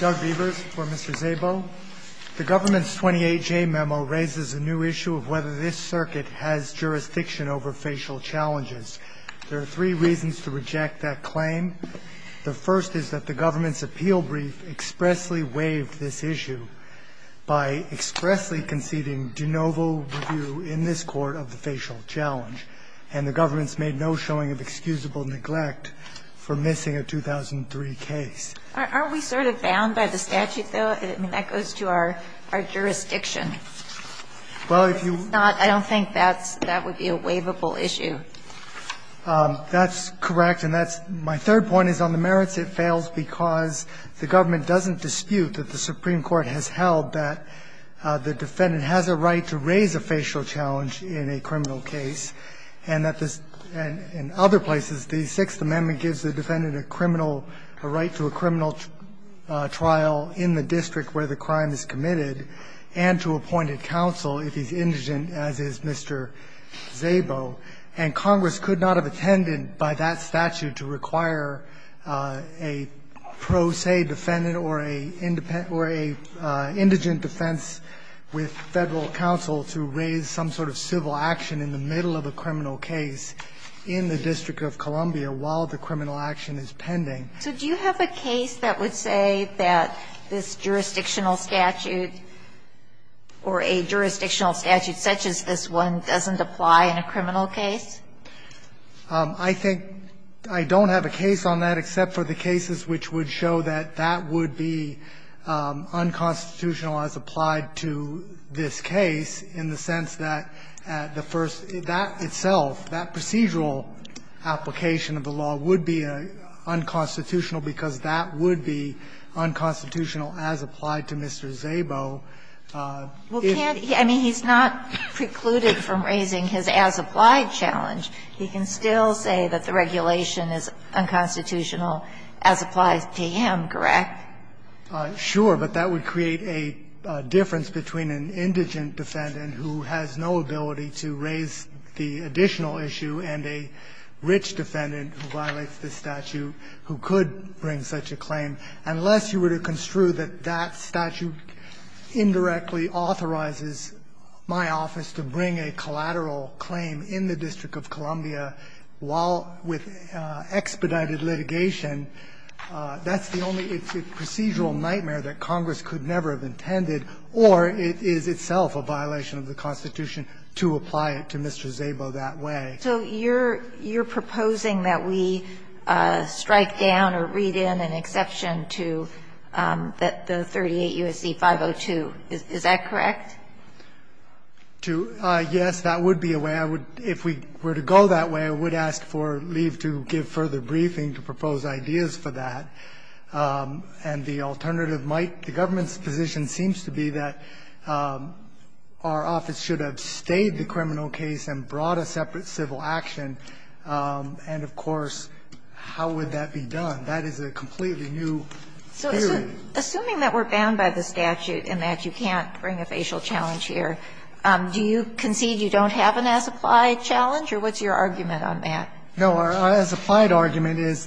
The government's 28-J memo raises a new issue of whether this circuit has jurisdiction over facial challenges. There are three reasons to reject that claim. The first is that the government's appeal brief expressly waived this issue by expressly conceding de novo review in this court of the facial challenge, and the government's made no showing of excusable neglect for missing a 2003 case. Kagan Are we sort of bound by the statute, though? I mean, that goes to our jurisdiction. If it's not, I don't think that's – that would be a waivable issue. Katyal That's correct, and that's – my third point is on the merits, it fails because the government doesn't dispute that the Supreme Court has held that the defendant has a right to raise a facial challenge in a criminal case, and that this – and in other places, the Sixth Amendment gives the defendant a criminal – a right to a criminal trial in the district where the crime is committed and to appointed counsel if he's indigent, as is Mr. Szabo. And Congress could not have attended by that statute to require a pro se defendant or a indigent defense with Federal counsel to raise some sort of civil action in the case pending. Kagan So do you have a case that would say that this jurisdictional statute or a jurisdictional statute such as this one doesn't apply in a criminal case? Katyal I think I don't have a case on that except for the cases which would show that that would be unconstitutional as applied to this case in the sense that the first – that itself, that procedural application of the law would be unconstitutional because that would be unconstitutional as applied to Mr. Szabo. If he's not precluded from raising his as-applied challenge, he can still say that the regulation is unconstitutional as applies to him, correct? Katyal Sure, but that would create a difference between an indigent defendant who has no ability to raise the additional issue and a rich defendant who violates this statute who could bring such a claim. Unless you were to construe that that statute indirectly authorizes my office to bring a collateral claim in the District of Columbia while with expedited litigation, that's the only procedural nightmare that Congress could never have intended, or it is itself a violation of the Constitution to apply it to Mr. Szabo that way. Kagan So you're proposing that we strike down or read in an exception to the 38 U.S.C. 502, is that correct? Katyal Yes, that would be a way. I would – if we were to go that way, I would ask for leave to give further briefing to propose ideas for that. And the alternative might – the government's position seems to be that our office should have stayed the criminal case and brought a separate civil action, and of course, how would that be done? That is a completely new theory. Kagan So assuming that we're bound by the statute and that you can't bring a facial challenge here, do you concede you don't have an as-applied challenge, or what's your argument on that? Katyal No, our as-applied argument is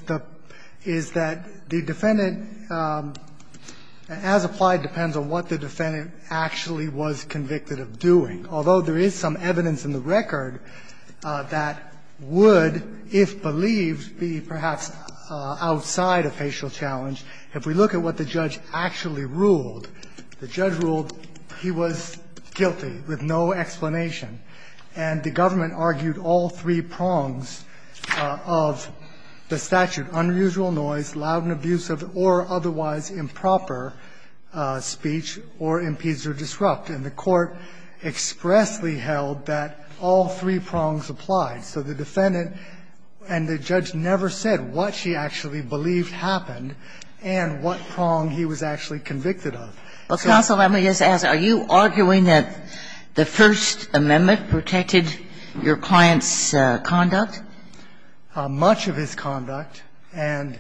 that the defendant – as-applied depends on what the defendant actually was convicted of doing, although there is some evidence in the record that would, if believed, be perhaps outside a facial challenge. If we look at what the judge actually ruled, the judge ruled he was guilty with no explanation, and the government argued all three prongs of the statute, unusual noise, loud and abusive, or otherwise improper speech, or impedes or disrupt. And the court expressly held that all three prongs applied. So the defendant and the judge never said what she actually believed happened and what prong he was actually convicted of. Kagan So counsel, let me just ask, are you arguing that the First Amendment protected your client's conduct? Katyal Much of his conduct, and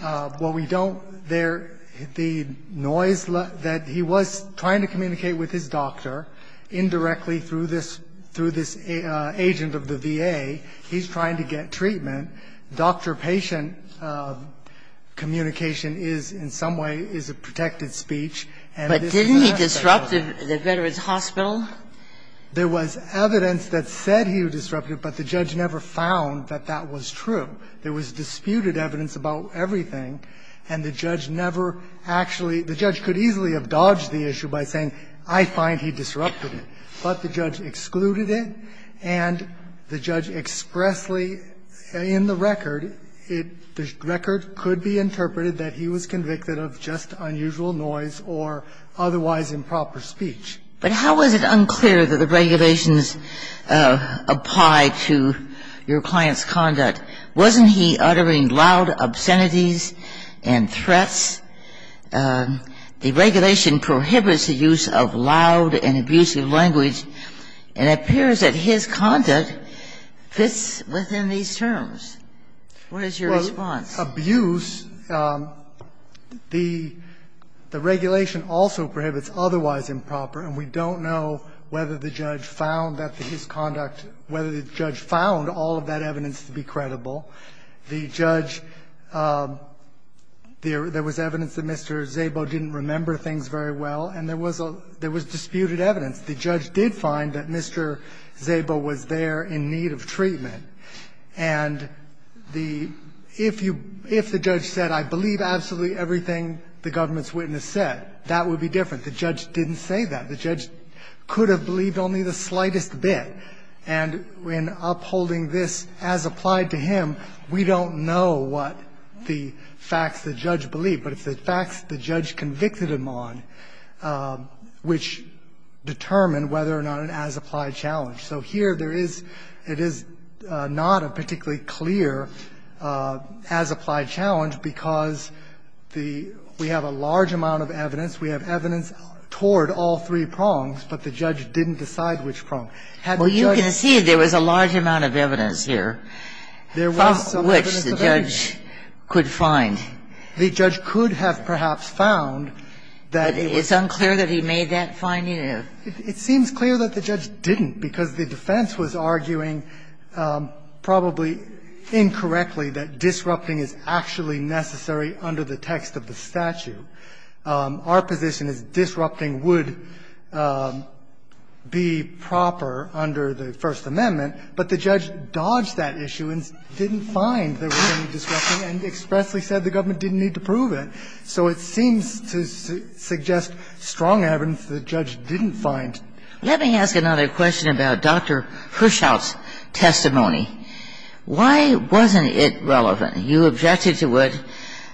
what we don't there, the noise that he was trying to communicate with his doctor, indirectly through this agent of the VA, he's trying to get treatment. Doctor-patient communication is, in some way, is a protected speech. And this is a disruptive speech. Kagan But didn't he disrupt the Veterans Hospital? Katyal There was evidence that said he was disruptive, but the judge never found that that was true. There was disputed evidence about everything, and the judge never actually the judge could easily have dodged the issue by saying, I find he disrupted it. But the judge excluded it, and the judge expressly, in the record, it the record could be interpreted that he was convicted of just unusual noise or otherwise improper speech. Kagan But how was it unclear that the regulations apply to your client's conduct? Wasn't he uttering loud obscenities and threats? The regulation prohibits the use of loud and abusive language. It appears that his conduct fits within these terms. What is your response? Katyal Well, abuse, the regulation also prohibits otherwise improper, and we don't know whether the judge found that his conduct, whether the judge found all of that evidence to be credible. The judge, there was evidence that Mr. Szabo didn't remember things very well, and there was disputed evidence. The judge did find that Mr. Szabo was there in need of treatment, and the – if the judge said, I believe absolutely everything the government's witness said, that would be different. The judge didn't say that. The judge could have believed only the slightest bit. And in upholding this as applied to him, we don't know what the facts the judge believed, but it's the facts the judge convicted him on which determine whether or not an as-applied challenge. So here there is – it is not a particularly clear as-applied challenge because the – we have a large amount of evidence. We have evidence toward all three prongs, but the judge didn't decide which prong. Had the judge – Kagan. Well, you can see there was a large amount of evidence here, from which the judge could find. The judge could have perhaps found that it was – But it's unclear that he made that finding, or – It seems clear that the judge didn't, because the defense was arguing probably incorrectly that disrupting is actually necessary under the text of the statute. Our position is disrupting would be proper under the First Amendment, but the judge dodged that issue and didn't find there was any disrupting and expressly said the government didn't need to prove it. So it seems to suggest strong evidence the judge didn't find. Let me ask another question about Dr. Herschel's testimony. Why wasn't it relevant? You objected to it,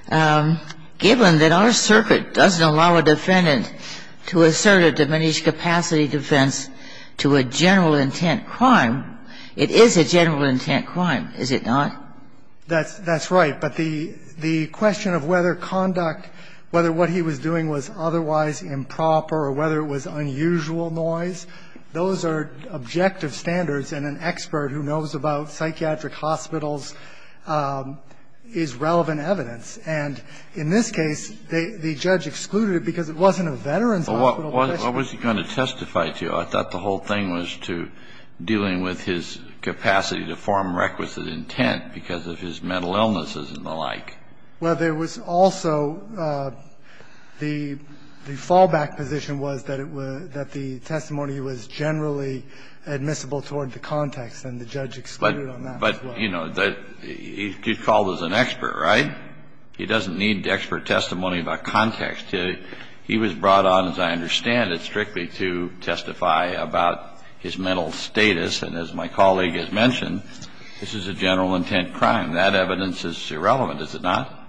given that our circuit doesn't allow a defendant to assert a diminished-capacity defense to a general-intent crime. It is a general-intent crime, is it not? That's right. But the question of whether conduct, whether what he was doing was otherwise improper or whether it was unusual noise, those are objective standards. And an expert who knows about psychiatric hospitals is relevant evidence. And in this case, the judge excluded it because it wasn't a Veterans Hospital question. Well, what was he going to testify to? I thought the whole thing was to dealing with his capacity to form requisite intent because of his mental illnesses and the like. Well, there was also the fallback position was that it was – that the testimony was generally admissible toward the context, and the judge excluded on that as well. But, you know, he's called as an expert, right? He doesn't need expert testimony about context. He was brought on, as I understand it, strictly to testify about his mental status. And as my colleague has mentioned, this is a general-intent crime. That evidence is irrelevant, is it not?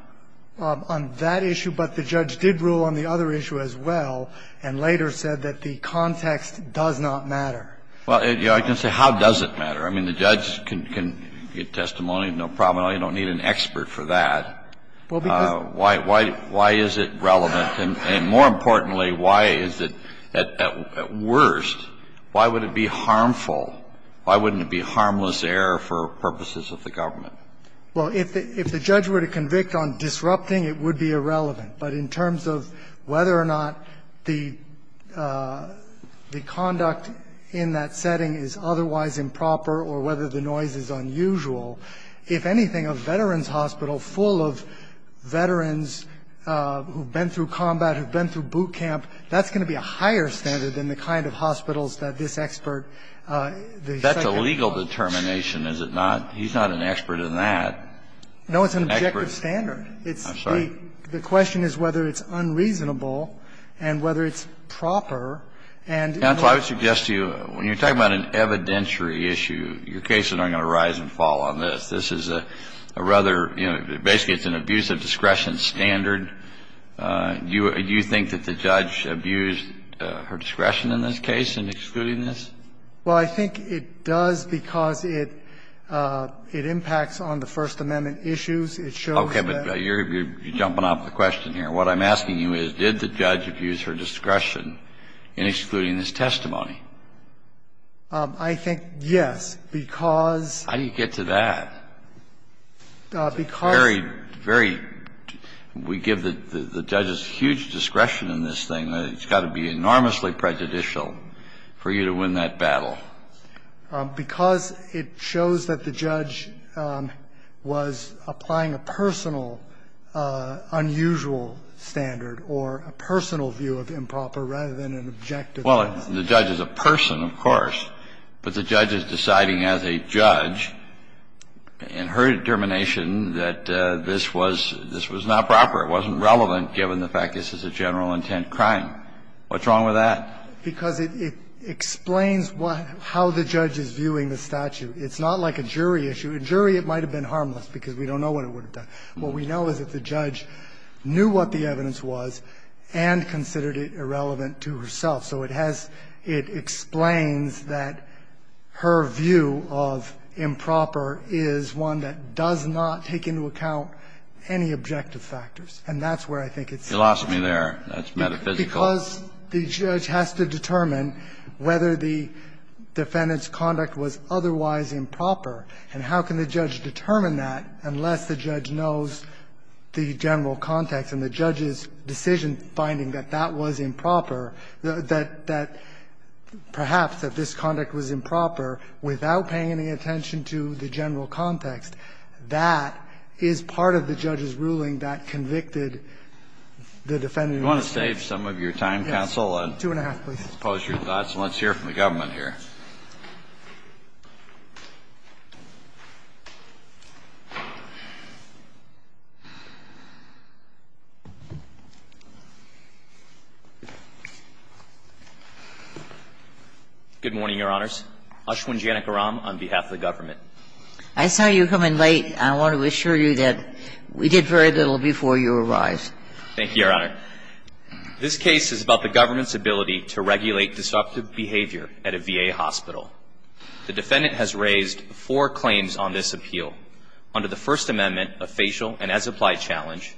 On that issue, but the judge did rule on the other issue as well and later said that the context does not matter. Well, you know, I can say how does it matter? I mean, the judge can give testimony, no problem at all. You don't need an expert for that. Well, because – Why is it relevant? And more importantly, why is it at worst, why would it be harmful? Why wouldn't it be harmless error for purposes of the government? Well, if the judge were to convict on disrupting, it would be irrelevant. But in terms of whether or not the conduct in that setting is otherwise improper or whether the noise is unusual, if anything, a veterans' hospital full of veterans who have been through combat, who have been through boot camp, that's going to be a higher standard than the kind of hospitals that this expert, the second – That's a legal determination, is it not? He's not an expert in that. No, it's an objective standard. I'm sorry. The question is whether it's unreasonable and whether it's proper and – Counsel, I would suggest to you, when you're talking about an evidentiary issue, your cases aren't going to rise and fall on this. This is a rather, you know, basically it's an abuse of discretion standard. Do you think that the judge abused her discretion in this case in excluding this? Well, I think it does because it impacts on the First Amendment issues. It shows that – Okay. But you're jumping off the question here. What I'm asking you is, did the judge abuse her discretion in excluding this testimony? I think, yes, because – How do you get to that? Because – Very, very – we give the judges huge discretion in this thing. It's got to be enormously prejudicial for you to win that battle. Because it shows that the judge was applying a personal, unusual standard or a personal view of improper rather than an objective – Well, the judge is a person, of course, but the judge is deciding as a judge in her determination that this was – this was not proper. It wasn't relevant, given the fact this is a general intent crime. What's wrong with that? Because it explains what – how the judge is viewing the statute. It's not like a jury issue. A jury, it might have been harmless, because we don't know what it would have done. What we know is that the judge knew what the evidence was and considered it irrelevant to herself. So it has – it explains that her view of improper is one that does not take into account any objective factors, and that's where I think it's – You lost me there. That's metaphysical. Because the judge has to determine whether the defendant's conduct was otherwise improper. And how can the judge determine that unless the judge knows the general context and the judge's decision-finding that that was improper, that perhaps that this conduct was improper without paying any attention to the general context? That is part of the judge's ruling that convicted the defendant of misdemeanor Counsel, we will stop for a moment and then come back. We must have time. Do we have more time, Counsel? Two and a half, please. Good morning, Your Honors. Ashwin Janakaram on behalf of the government. I saw you coming late, and I want to assure you that we did very little before you arrived. Thank you, Your Honor. This case is about the government's ability to regulate disruptive behavior at a VA hospital. The defendant has raised four claims on this appeal under the First Amendment, a facial and as-applied challenge,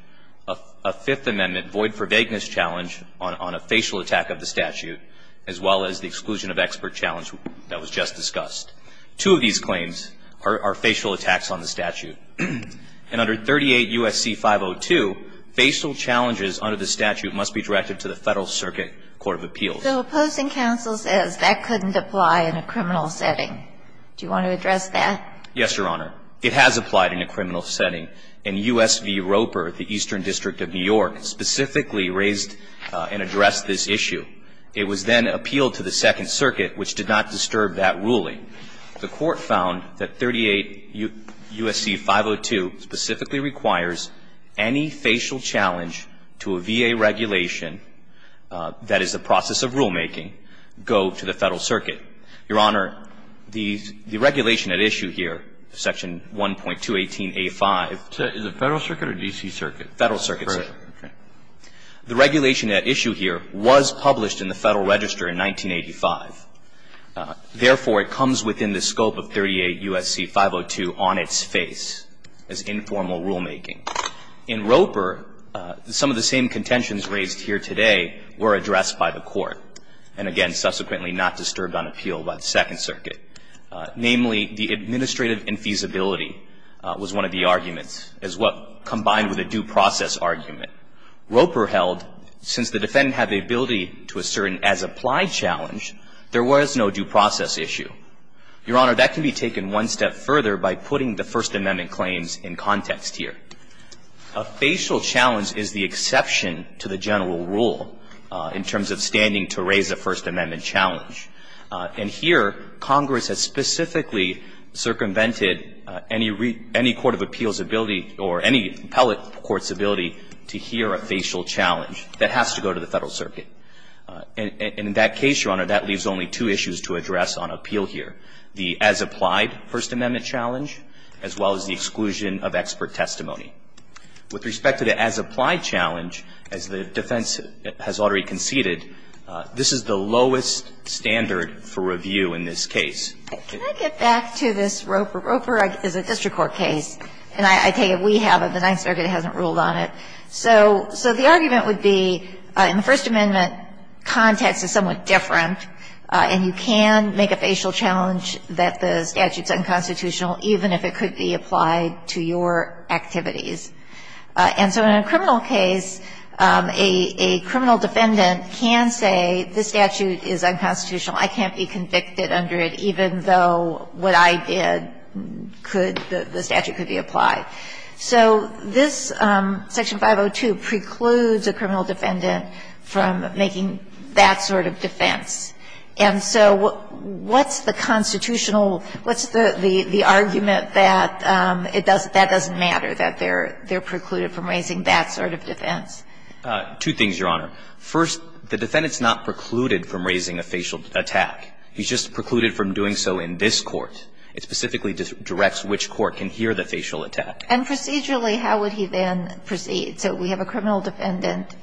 a Fifth Amendment void-for-vagueness challenge on a facial attack of the statute, as well as the exclusion of expert challenge that was just discussed. Two of these claims are facial attacks on the statute. And under 38 U.S.C. 502, facial challenges under the statute must be directed to the Federal Circuit Court of Appeals. So opposing counsel says that couldn't apply in a criminal setting. Do you want to address that? Yes, Your Honor. It has applied in a criminal setting, and U.S. v. Roper, the Eastern District of New York, specifically raised and addressed this issue. It was then appealed to the Second Circuit, which did not disturb that ruling. The Court found that 38 U.S.C. 502 specifically requires any facial challenge to a VA regulation that is the process of rulemaking go to the Federal Circuit. Your Honor, the regulation at issue here, Section 1.218a.5. Is it Federal Circuit or D.C. Circuit? Federal Circuit, sir. Correct. The regulation at issue here was published in the Federal Register in 1985. Therefore, it comes within the scope of 38 U.S.C. 502 on its face as informal rulemaking. In Roper, some of the same contentions raised here today were addressed by the Court and, again, subsequently not disturbed on appeal by the Second Circuit. Namely, the administrative infeasibility was one of the arguments as well, combined with a due process argument. Roper held, since the defendant had the ability to assert an as-applied challenge, there was no due process issue. Your Honor, that can be taken one step further by putting the First Amendment claims in context here. A facial challenge is the exception to the general rule in terms of standing to raise a First Amendment challenge. And here, Congress has specifically circumvented any court of appeals' ability or any appellate court's ability to hear a facial challenge that has to go to the Federal Circuit. And in that case, Your Honor, that leaves only two issues to address on appeal here, the as-applied First Amendment challenge as well as the exclusion of expert testimony. With respect to the as-applied challenge, as the defense has already conceded, this is the lowest standard for review in this case. Can I get back to this Roper? Roper is a district court case, and I take it we have it. The Ninth Circuit hasn't ruled on it. So the argument would be in the First Amendment context is somewhat different, and you can make a facial challenge that the statute is unconstitutional even if it could be applied to your activities. And so in a criminal case, a criminal defendant can say this statute is unconstitutional. I can't be convicted under it even though what I did could the statute could be applied. So this Section 502 precludes a criminal defendant from making that sort of defense. And so what's the constitutional, what's the argument that it doesn't, that doesn't matter, that they're precluded from raising that sort of defense? Two things, Your Honor. First, the defendant's not precluded from raising a facial attack. He's just precluded from doing so in this court. It specifically directs which court can hear the facial attack. And procedurally, how would he then proceed? So we have a criminal defendant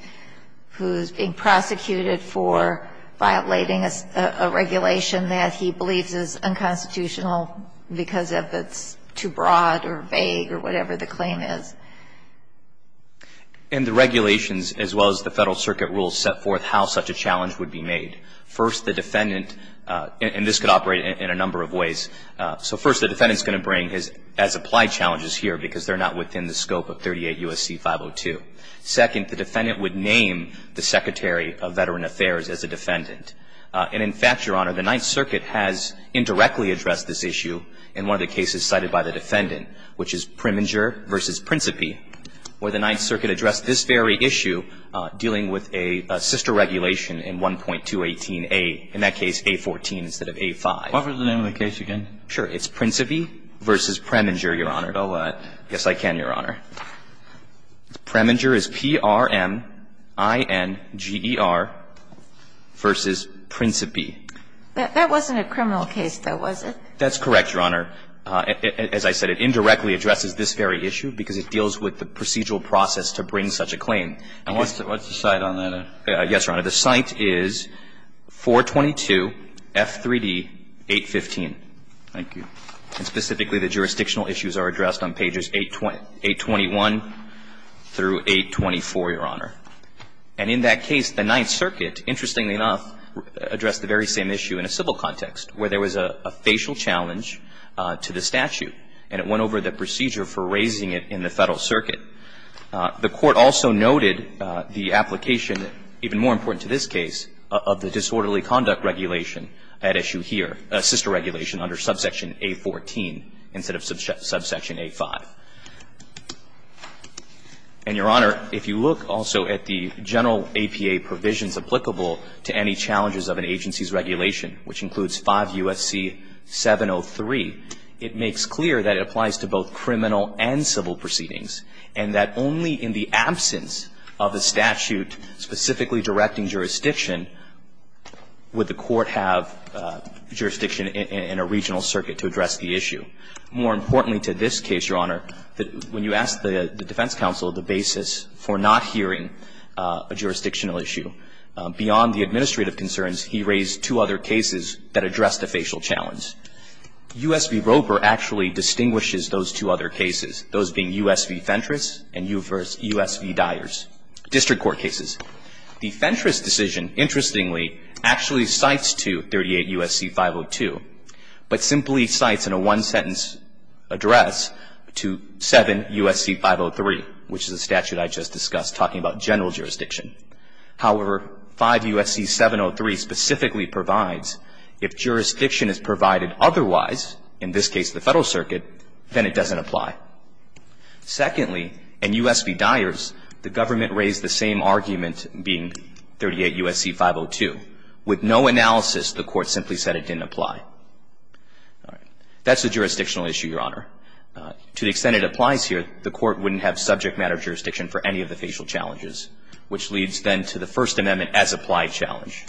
who's being prosecuted for violating a regulation that he believes is unconstitutional because of it's too broad or vague or whatever the claim is. And the regulations as well as the Federal Circuit rules set forth how such a challenge would be made. First, the defendant, and this could operate in a number of ways. So first, the defendant's going to bring his as-applied challenges here because they're not within the scope of 38 U.S.C. 502. Second, the defendant would name the Secretary of Veteran Affairs as a defendant. And in fact, Your Honor, the Ninth Circuit has indirectly addressed this issue in one of the cases cited by the defendant, which is Preminger v. Principi, where the Ninth Circuit addressed this very issue dealing with a sister regulation in 1.218a, in that case, A14 instead of A5. Can you repeat the name of the case again? Sure. It's Principi v. Preminger, Your Honor. Yes, I can, Your Honor. Preminger is P-R-M-I-N-G-E-R v. Principi. That wasn't a criminal case, though, was it? That's correct, Your Honor. As I said, it indirectly addresses this very issue because it deals with the procedural process to bring such a claim. And what's the site on that? Yes, Your Honor. The site is 422 F3D 815. Thank you. And specifically, the jurisdictional issues are addressed on pages 821 through 824, Your Honor. And in that case, the Ninth Circuit, interestingly enough, addressed the very same issue in a civil context, where there was a facial challenge to the statute, and it went over the procedure for raising it in the Federal Circuit. The Court also noted the application, even more important to this case, of the disorderly conduct regulation at issue here, sister regulation under subsection A14 instead of subsection A5. And, Your Honor, if you look also at the general APA provisions applicable to any challenges of an agency's regulation, which includes 5 U.S.C. 703, it makes clear that it applies to both criminal and civil proceedings, and that only in the absence of a statute specifically directing jurisdiction would the Court have jurisdiction in a regional circuit to address the issue. More importantly to this case, Your Honor, when you ask the defense counsel the basis for not hearing a jurisdictional issue, beyond the administrative concerns, he raised two other cases that addressed the facial challenge. U.S. v. Roper actually distinguishes those two other cases, those being U.S. v. Fentress and U.S. v. Dyers, district court cases. The Fentress decision, interestingly, actually cites to 38 U.S.C. 502, but simply cites in a one-sentence address to 7 U.S.C. 503, which is a statute I just discussed talking about general jurisdiction. However, 5 U.S.C. 703 specifically provides if jurisdiction is provided otherwise, in this case the Federal Circuit, then it doesn't apply. Secondly, in U.S. v. Dyers, the government raised the same argument being 38 U.S.C. 502. With no analysis, the Court simply said it didn't apply. All right. That's a jurisdictional issue, Your Honor. To the extent it applies here, the Court wouldn't have subject matter jurisdiction for any of the facial challenges, which leads, then, to the First Amendment as-applied challenge.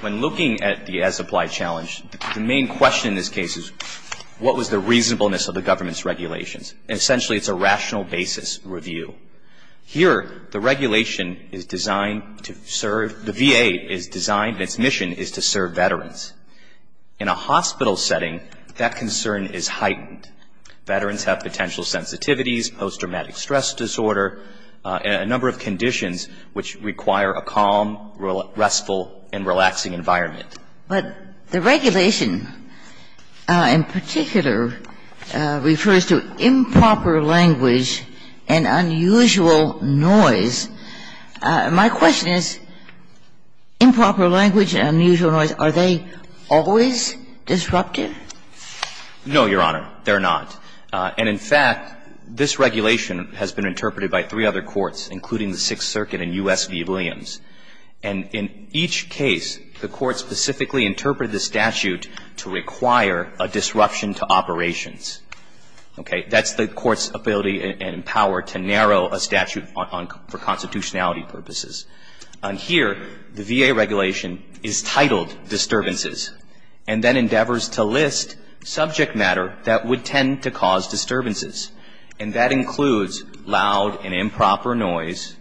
When looking at the as-applied challenge, the main question in this case is what was the reasonableness of the government's regulations? Essentially, it's a rational basis review. Here, the regulation is designed to serve the VA is designed, its mission is to serve veterans. In a hospital setting, that concern is heightened. Veterans have potential sensitivities, post-traumatic stress disorder, a number of conditions which require a calm, restful, and relaxing environment. But the regulation in particular refers to improper language and unusual noise. My question is, improper language and unusual noise, are they always disruptive? No, Your Honor, they're not. And, in fact, this regulation has been interpreted by three other courts, including the Sixth Circuit and U.S. v. Williams. And in each case, the Court specifically interpreted the statute to require a disruption to operations. Okay. That's the Court's ability and power to narrow a statute for constitutionality purposes. On here, the VA regulation is titled, Disturbances, and then endeavors to list subject matter that would tend to cause disturbances. And that includes loud and improper noise.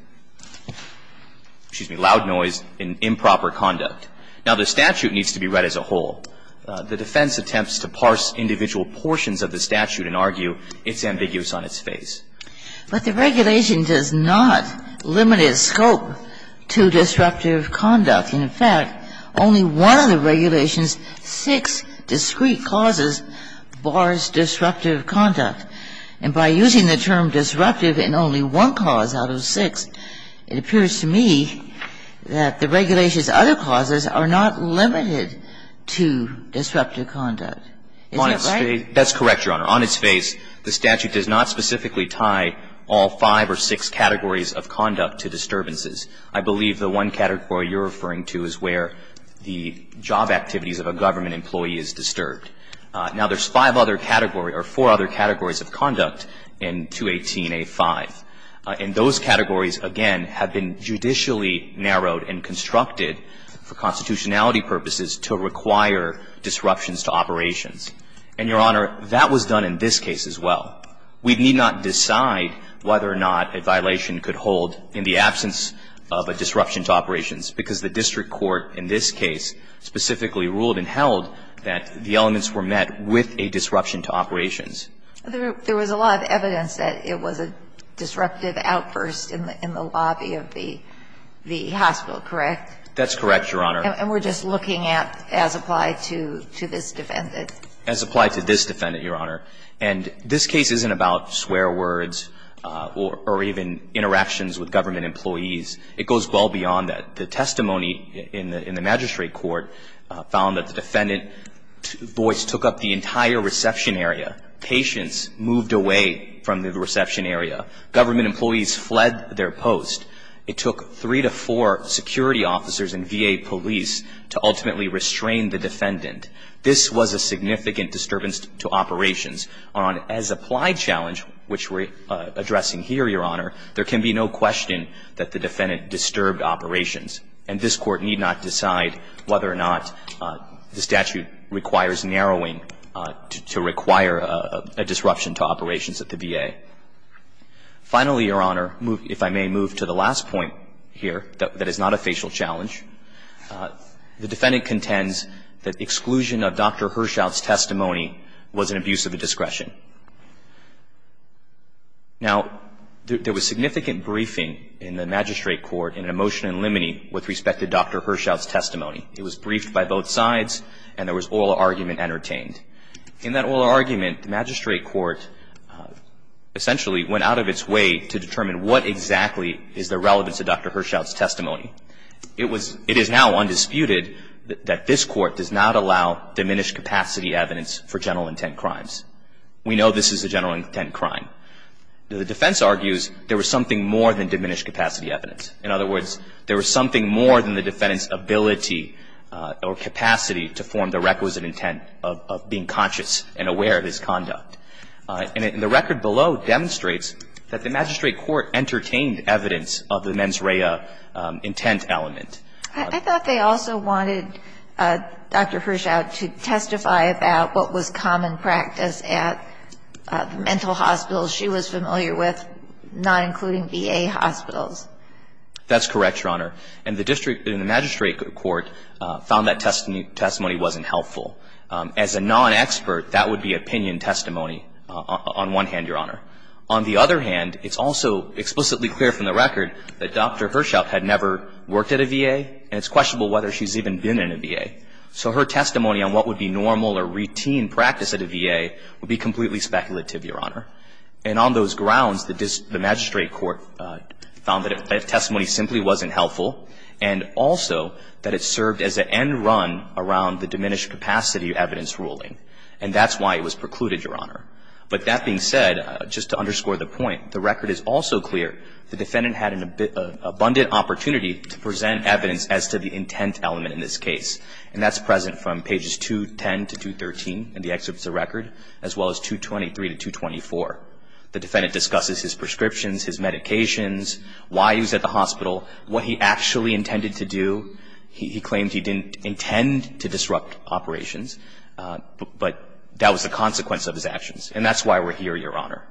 Excuse me, loud noise and improper conduct. Now, the statute needs to be read as a whole. The defense attempts to parse individual portions of the statute and argue it's ambiguous on its face. But the regulation does not limit its scope to disruptive conduct. In fact, only one of the regulation's six discrete causes bars disruptive conduct. And by using the term disruptive in only one cause out of six, it appears to me that the regulation's other causes are not limited to disruptive conduct. Isn't that right? That's correct, Your Honor. On its face, the statute does not specifically tie all five or six categories of conduct to disturbances. I believe the one category you're referring to is where the job activities of a government employee is disturbed. Now, there's five other categories or four other categories of conduct in 218a-5. And those categories, again, have been judicially narrowed and constructed for constitutionality purposes to require disruptions to operations. And, Your Honor, that was done in this case as well. We need not decide whether or not a violation could hold in the absence of a disruption to operations, because the district court in this case specifically ruled and held that the elements were met with a disruption to operations. There was a lot of evidence that it was a disruptive outburst in the lobby of the hospital, correct? That's correct, Your Honor. And we're just looking at as applied to this defendant? As applied to this defendant, Your Honor. And this case isn't about swear words or even interactions with government employees. It goes well beyond that. The testimony in the magistrate court found that the defendant's voice took up the entire reception area. Patients moved away from the reception area. Government employees fled their post. It took three to four security officers and VA police to ultimately restrain the defendant. This was a significant disturbance to operations. On as applied challenge, which we're addressing here, Your Honor, there can be no question that the defendant disturbed operations. And this Court need not decide whether or not the statute requires narrowing to require a disruption to operations at the VA. Finally, Your Honor, if I may move to the last point here, that is not a facial challenge. The defendant contends that exclusion of Dr. Hershout's testimony was an abuse of discretion. Now, there was significant briefing in the magistrate court in a motion in limine with respect to Dr. Hershout's testimony. It was briefed by both sides, and there was oral argument entertained. In that oral argument, the magistrate court essentially went out of its way to determine what exactly is the relevance of Dr. Hershout's testimony. It is now undisputed that this Court does not allow diminished capacity evidence for general intent crimes. We know this is a general intent crime. The defense argues there was something more than diminished capacity evidence. In other words, there was something more than the defendant's ability or capacity to form the requisite intent of being conscious and aware of his conduct. And the record below demonstrates that the magistrate court entertained evidence of the mens rea intent element. I thought they also wanted Dr. Hershout to testify about what was common practice at mental hospitals she was familiar with, not including VA hospitals. That's correct, Your Honor. And the district in the magistrate court found that testimony wasn't helpful. As a non-expert, that would be opinion testimony on one hand, Your Honor. On the other hand, it's also explicitly clear from the record that Dr. Hershout had never worked at a VA, and it's questionable whether she's even been in a VA. So her testimony on what would be normal or routine practice at a VA would be completely speculative, Your Honor. And on those grounds, the magistrate court found that testimony simply wasn't helpful and also that it served as an end run around the diminished capacity evidence ruling, and that's why it was precluded, Your Honor. But that being said, just to underscore the point, the record is also clear the defendant had an abundant opportunity to present evidence as to the intent element in this case, and that's present from pages 210 to 213 in the excerpts of the record, as well as 223 to 224. The defendant discusses his prescriptions, his medications, why he was at the hospital, what he actually intended to do. He claimed he didn't intend to disrupt operations, but that was the consequence of his actions. And that's why we're here, Your Honor.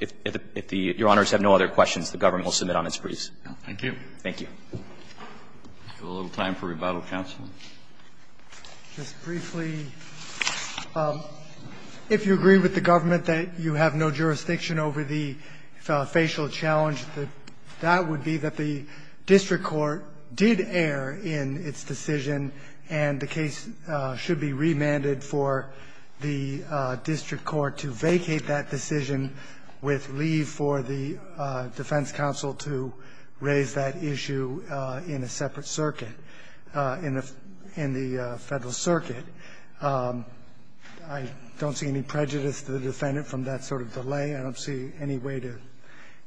If the Your Honors have no other questions, the Government will submit on its pleas. Thank you. Thank you. Do we have a little time for rebuttal, counsel? Just briefly. If you agree with the Government that you have no jurisdiction over the facial challenge, that would be that the district court did err in its decision and the case should be remanded for the district court to vacate that decision with leave for the defense counsel to raise that issue in a separate circuit, in the Federal Circuit. I don't see any prejudice to the defendant from that sort of delay. I don't see any way to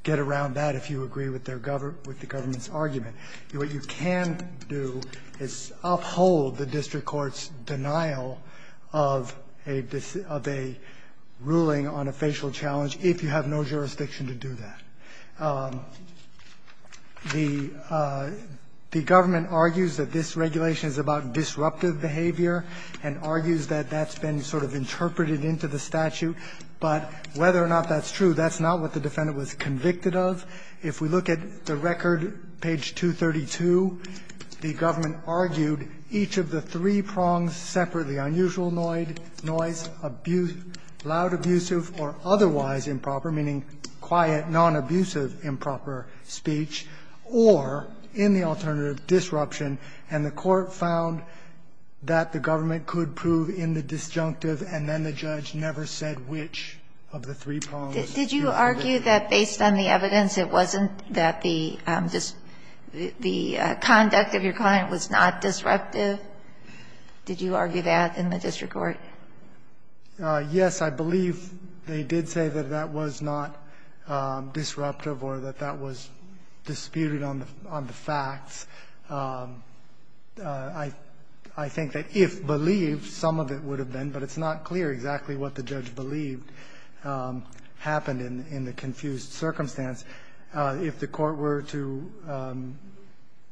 get around that if you agree with the Government's argument. What you can do is uphold the district court's denial of a ruling on a facial challenge if you have no jurisdiction to do that. The Government argues that this regulation is about disruptive behavior and argues that that's been sort of interpreted into the statute. But whether or not that's true, that's not what the defendant was convicted of. If we look at the record, page 232, the Government argued each of the three prongs separately, unusual noise, loud, abusive, or otherwise improper, meaning quiet, non-abusive improper speech, or in the alternative, disruption. And the Court found that the Government could prove in the disjunctive, and then the judge never said which of the three prongs was disjunctive. Did you argue that based on the evidence it wasn't that the conduct of your client was not disruptive? Did you argue that in the district court? Yes, I believe they did say that that was not disruptive or that that was disputed on the facts. I think that if believed, some of it would have been, but it's not clear exactly what the judge believed, happened in the confused circumstance. If the Court were to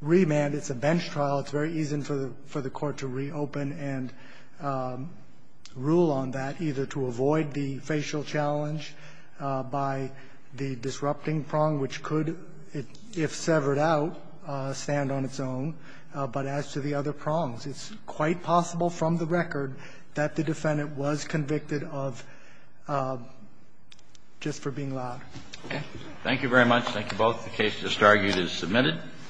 remand, it's a bench trial. It's very easy for the Court to reopen and rule on that, either to avoid the facial challenge by the disrupting prong, which could, if severed out, stand on its own. But as to the other prongs, it's quite possible from the record that the defendant was convicted of just for being loud. Okay. Thank you very much. Thank you both. The case just argued is submitted.